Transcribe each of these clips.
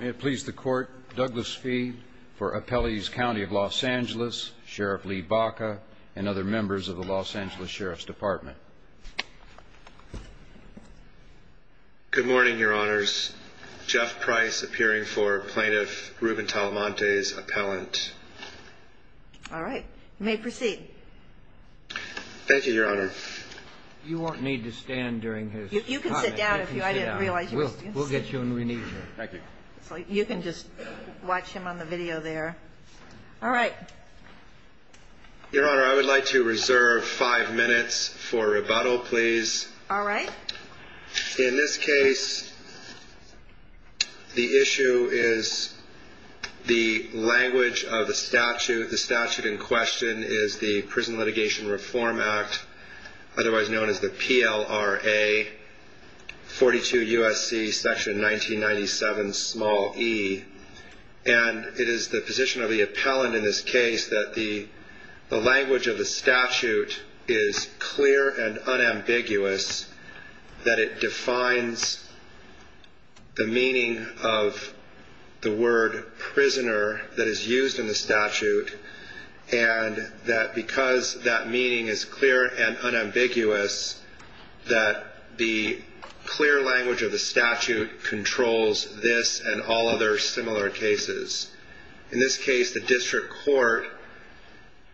May it please the Court, Douglas Fee for Appellees County of Los Angeles, Sheriff Lee Baca, and other members of the Los Angeles Sheriff's Department. Good morning, Your Honors. Jeff Price appearing for Plaintiff Ruben Talamantes' appellant. All right. You may proceed. Thank you, Your Honor. You won't need to stand during his comment. You can sit down if you like. I didn't realize you were standing. We'll get you when we need you. Thank you. You can just watch him on the video there. All right. Your Honor, I would like to reserve five minutes for rebuttal, please. All right. In this case, the issue is the language of the statute. The statute in question is the Prison Litigation Reform Act, otherwise known as the PLRA 42 U.S.C. section 1997 small e. And it is the position of the appellant in this case that the language of the statute is clear and unambiguous, that it defines the meaning of the word In this case, the district court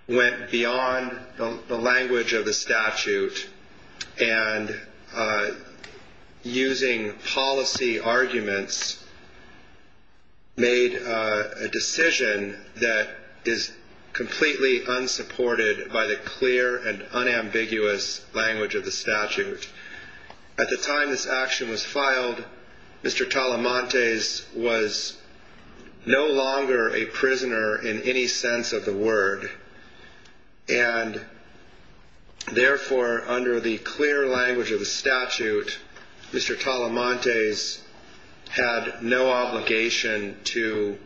went beyond the language of the statute and, using policy arguments, made a decision that is completely unsupported by the clear and unambiguous language of the statute. At the time this action was filed, Mr. Talamantes was no longer a prisoner in any sense of the word. And, therefore, under the clear language of the statute, Mr. Talamantes had no obligation to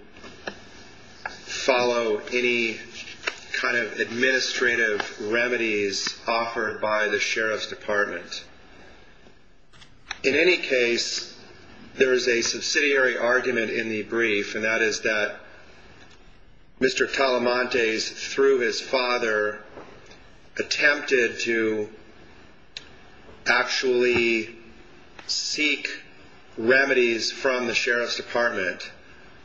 follow any kind of administrative remedies offered by the Sheriff's Department. In any case, there is a subsidiary argument in the brief, and that is that Mr. Talamantes, through his father, attempted to actually seek remedies from the Sheriff's Department.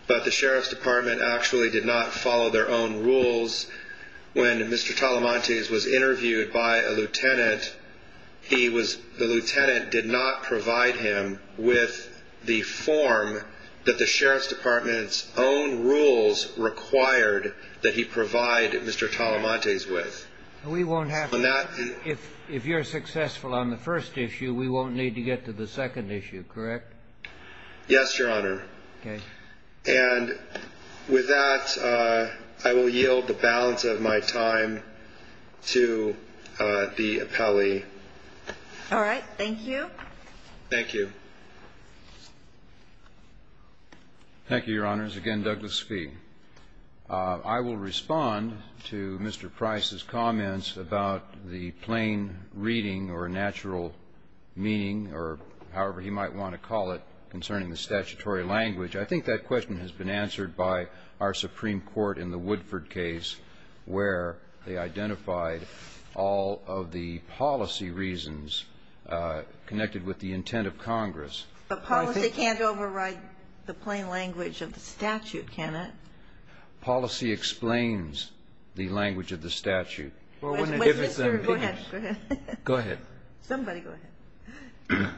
But the Sheriff's Department actually did not follow their own rules. When Mr. Talamantes was interviewed by a lieutenant, the lieutenant did not provide him with the form that the Sheriff's Department's own rules required that he provide Mr. Talamantes with. If you're successful on the first issue, we won't need to get to the second issue, correct? Yes, Your Honor. Okay. And with that, I will yield the balance of my time to the appellee. All right. Thank you. Thank you. Thank you, Your Honors. Again, Douglas Speed. I will respond to Mr. Price's comments about the plain reading or natural meaning or however he might want to call it concerning the statutory language. I think that question has been answered by our Supreme Court in the Woodford case where they identified all of the policy reasons connected with the intent of Congress. But policy can't override the plain language of the statute, can it? Policy explains the language of the statute. Go ahead. Somebody go ahead.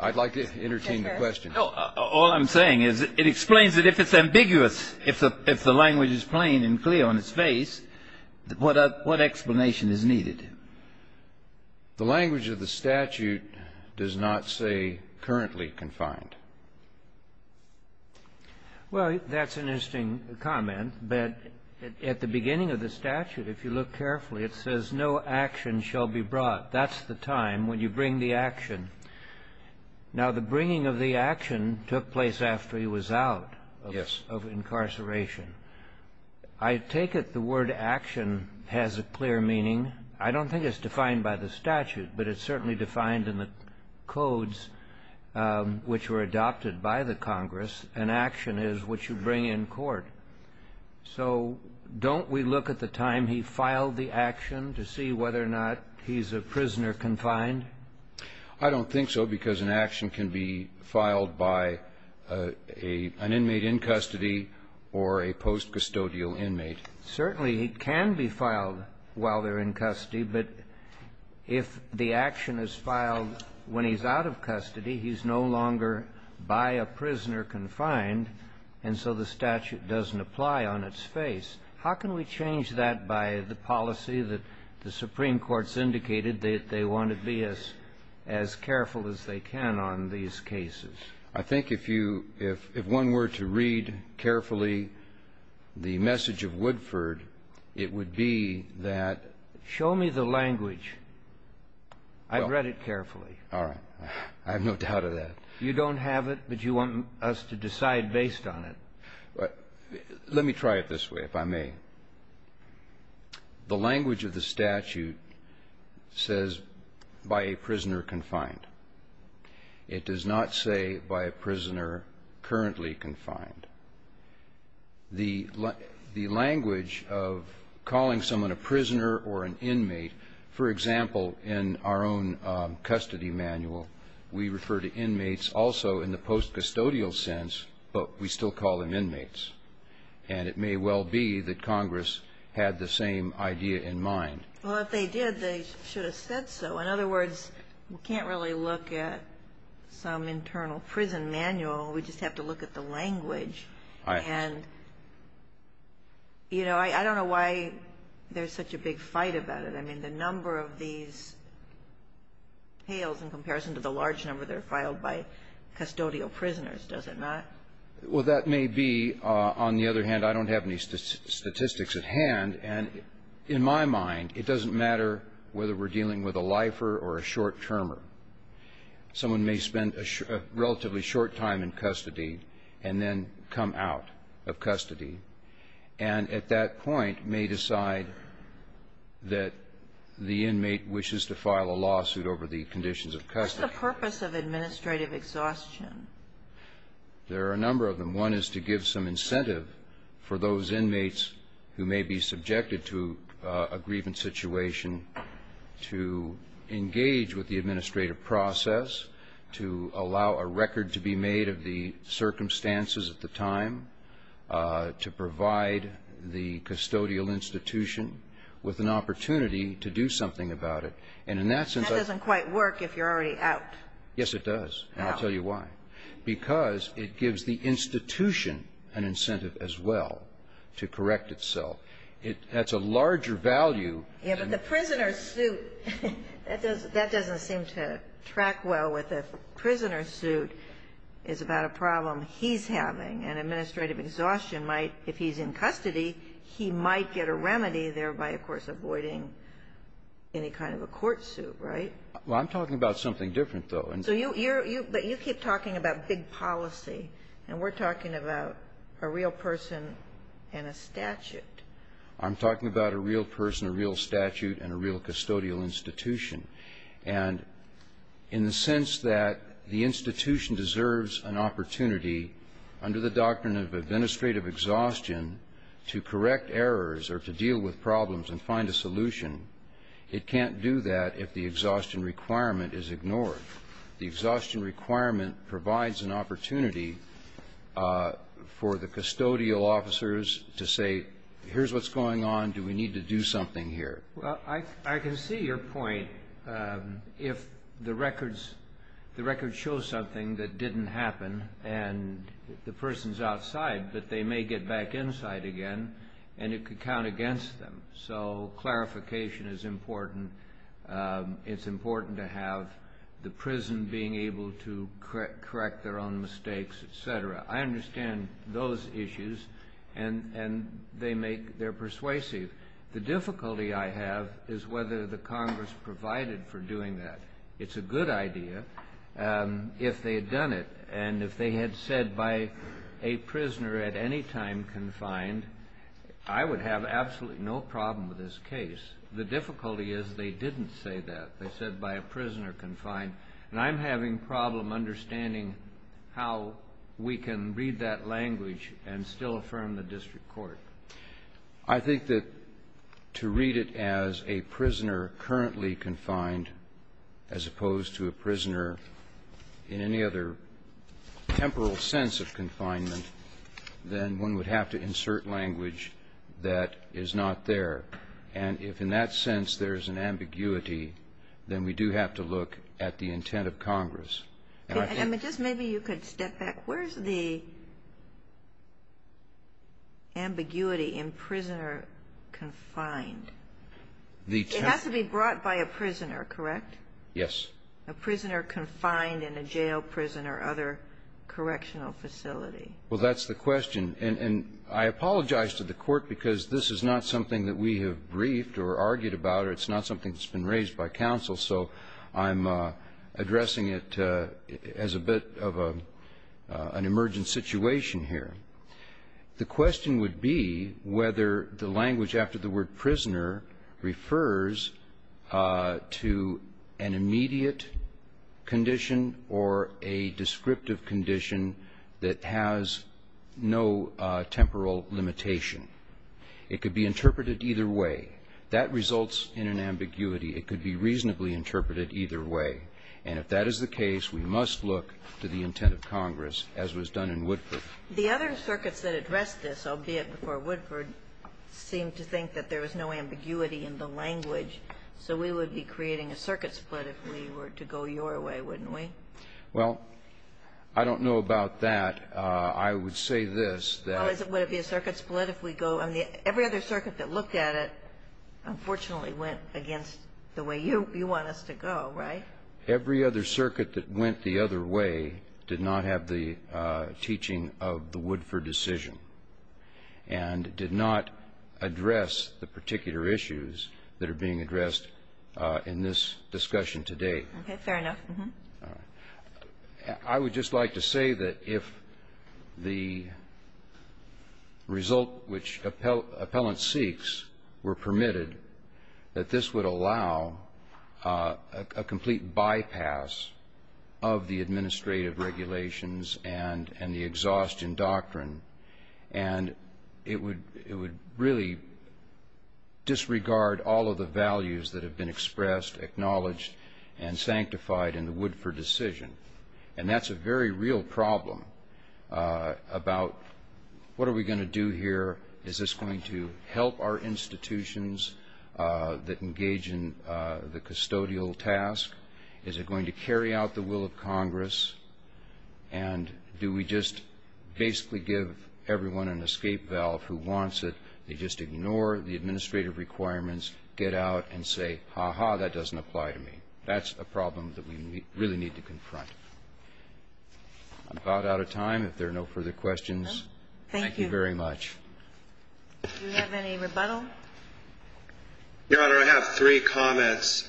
I'd like to entertain the question. All I'm saying is it explains that if it's ambiguous, if the language is plain and clear on its face, what explanation is needed? The language of the statute does not say currently confined. Well, that's an interesting comment. But at the beginning of the statute, if you look carefully, it says no action shall be brought. That's the time when you bring the action. Now, the bringing of the action took place after he was out of incarceration. I take it the word action has a clear meaning. I don't think it's defined by the statute, but it's certainly defined in the codes which were adopted by the Congress, and action is what you bring in court. So don't we look at the time he filed the action to see whether or not he's a prisoner confined? I don't think so, because an action can be filed by an inmate in custody or a post-custodial inmate. Certainly it can be filed while they're in custody, but if the action is filed when he's out of custody, he's no longer by a prisoner confined, and so the statute doesn't apply on its face. How can we change that by the policy that the Supreme Court's indicated that they want to be as careful as they can on these cases? I think if you – if one were to read carefully the message of Woodford, it would be that – Show me the language. I've read it carefully. All right. I have no doubt of that. You don't have it, but you want us to decide based on it. Let me try it this way, if I may. The language of the statute says by a prisoner confined. It does not say by a prisoner currently confined. The language of calling someone a prisoner or an inmate, for example, in our own custody manual, we refer to inmates also in the post-custodial sense, but we still call them inmates. And it may well be that Congress had the same idea in mind. Well, if they did, they should have said so. In other words, we can't really look at some internal prison manual. We just have to look at the language. And, you know, I don't know why there's such a big fight about it. I mean, the number of these pails in comparison to the large number that are filed by custodial prisoners, does it not? Well, that may be. On the other hand, I don't have any statistics at hand. And in my mind, it doesn't matter whether we're dealing with a lifer or a short-termer. Someone may spend a relatively short time in custody and then come out of custody and at that point may decide that the inmate wishes to file a lawsuit over the conditions of custody. What's the purpose of administrative exhaustion? There are a number of them. One is to give some incentive for those inmates who may be subjected to a grievance situation to engage with the administrative process, to allow a record to be made of the circumstances at the time, to provide the custodial institution with an opportunity to do something about it. And in that sense, I don't know. That doesn't quite work if you're already out. Yes, it does. And I'll tell you why. How? Because it gives the institution an incentive as well to correct itself. That's a larger value than the prisoner's suit. That doesn't seem to track well with a prisoner's suit. It's about a problem he's having. And administrative exhaustion might, if he's in custody, he might get a remedy, thereby, of course, avoiding any kind of a court suit, right? Well, I'm talking about something different, though. So you're you're you, but you keep talking about big policy, and we're talking about a real person and a statute. I'm talking about a real person, a real statute, and a real custodial institution. And in the sense that the institution deserves an opportunity under the doctrine of administrative exhaustion to correct errors or to deal with problems and find a solution, it can't do that if the exhaustion requirement is ignored. The exhaustion requirement provides an opportunity for the custodial officers to say, here's what's going on, do we need to do something here? Well, I can see your point. If the records show something that didn't happen and the person's outside, but they may get back inside again, and it could count against them. So clarification is important. It's important to have the prison being able to correct their own mistakes, et cetera. I understand those issues, and they're persuasive. The difficulty I have is whether the Congress provided for doing that. It's a good idea if they had done it. And if they had said by a prisoner at any time confined, I would have absolutely no problem with this case. The difficulty is they didn't say that. They said by a prisoner confined. And I'm having problem understanding how we can read that language and still affirm the district court. I think that to read it as a prisoner currently confined as opposed to a prisoner in any other temporal sense of confinement, then one would have to insert language that is not there. And if in that sense there's an ambiguity, then we do have to look at the intent of Congress. And I think the question is, where is the ambiguity in prisoner confined? It has to be brought by a prisoner, correct? Yes. A prisoner confined in a jail, prison, or other correctional facility. Well, that's the question. And I apologize to the Court because this is not something that we have briefed or argued about or it's not something that's been raised by counsel, so I'm addressing it as a bit of an emergent situation here. The question would be whether the language after the word prisoner refers to an immediate condition or a descriptive condition that has no temporal limitation. It could be interpreted either way. That results in an ambiguity. It could be reasonably interpreted either way. And if that is the case, we must look to the intent of Congress, as was done in Woodford. The other circuits that addressed this, albeit before Woodford, seemed to think that there was no ambiguity in the language. So we would be creating a circuit split if we were to go your way, wouldn't we? Well, I don't know about that. I would say this, that ---- Well, would it be a circuit split if we go ó every other circuit that looked at it, unfortunately, went against the way you want us to go, right? Every other circuit that went the other way did not have the teaching of the Woodford decision and did not address the particular issues that are being addressed in this discussion today. Okay. Fair enough. All right. I would just like to say that if the result which appellant seeks were permitted, that this would allow a complete bypass of the administrative regulations and the exhaustion doctrine. And it would really disregard all of the values that have been expressed, acknowledged, and sanctified in the Woodford decision. And that's a very real problem about what are we going to do here? Is this going to help our institutions that engage in the custodial task? Is it going to carry out the will of Congress? And do we just basically give everyone an escape valve who wants it? They just ignore the administrative requirements, get out, and say, ha-ha, that doesn't apply to me. That's a problem that we really need to confront. I'm about out of time if there are no further questions. Thank you very much. Thank you. Do we have any rebuttal? Your Honor, I have three comments.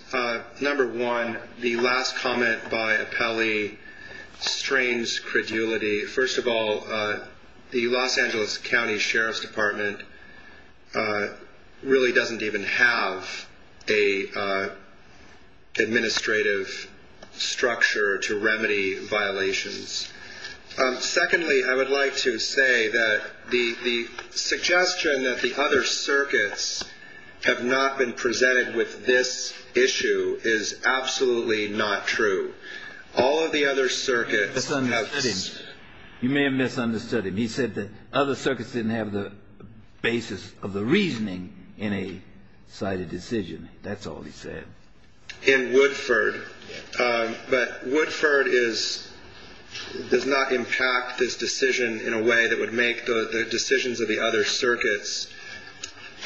Number one, the last comment by appellee strains credulity. First of all, the Los Angeles County Sheriff's Department really doesn't even have an administrative structure to remedy violations. Secondly, I would like to say that the suggestion that the other circuits have not been absolutely not true. All of the other circuits have been. You may have misunderstood him. He said the other circuits didn't have the basis of the reasoning in a cited decision. That's all he said. In Woodford. But Woodford does not impact this decision in a way that would make the decisions of the other circuits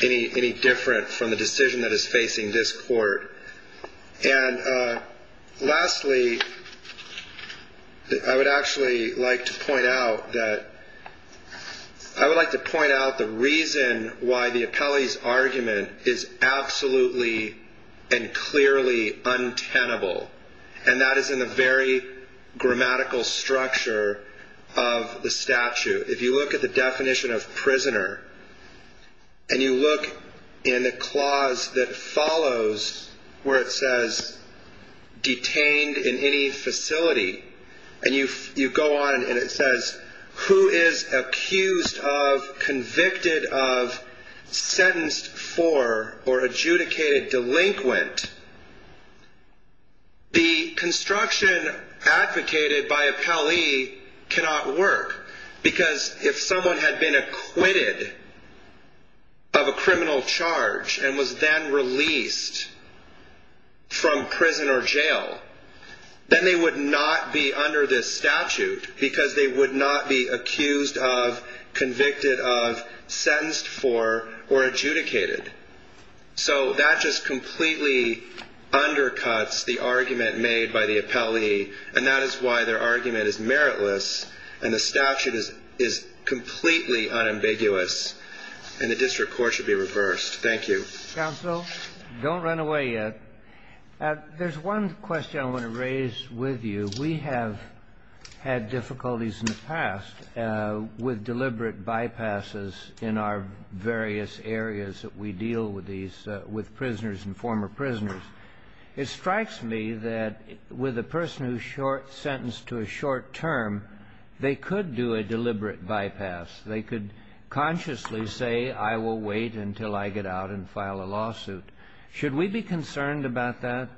any different from the decision that is facing this court. And lastly, I would actually like to point out that I would like to point out the reason why the appellee's argument is absolutely and clearly untenable, and that is in the very grammatical structure of the statute. If you look at the definition of prisoner and you look in the clause that follows where it says detained in any facility and you go on and it says who is accused of convicted of sentenced for or adjudicated delinquent. The construction advocated by appellee cannot work because if someone had been acquitted of a criminal charge and was then released from prison or jail, then they would not be under this statute because they would not be accused of convicted of sentenced for or adjudicated. So that just completely undercuts the argument made by the appellee, and that is why their argument is meritless and the statute is completely unambiguous and the district court should be reversed. Thank you. Counsel, don't run away yet. There's one question I want to raise with you. We have had difficulties in the past with deliberate bypasses in our various areas that we deal with these, with prisoners and former prisoners. It strikes me that with a person who is sentenced to a short term, they could do a deliberate bypass. They could consciously say, I will wait until I get out and file a lawsuit. Should we be concerned about that?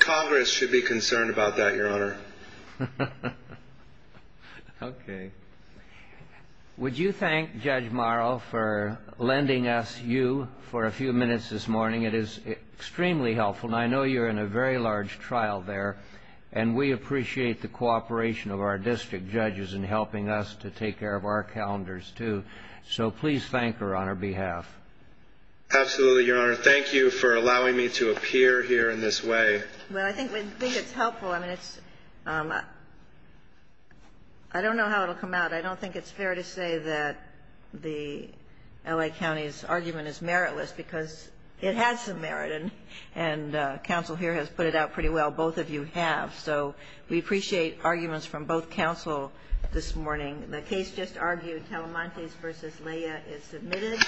Congress should be concerned about that, Your Honor. Okay. Would you thank Judge Morrow for lending us you for a few minutes this morning? It is extremely helpful, and I know you're in a very large trial there, and we appreciate the cooperation of our district judges in helping us to take care of our calendars, too. So please thank her on her behalf. Absolutely, Your Honor. Thank you for allowing me to appear here in this way. Well, I think it's helpful. I don't know how it will come out. I don't think it's fair to say that the L.A. County's argument is meritless because it has some merit, and counsel here has put it out pretty well. Both of you have. So we appreciate arguments from both counsel this morning. The case just argued, Talamantes v. Lea, is submitted.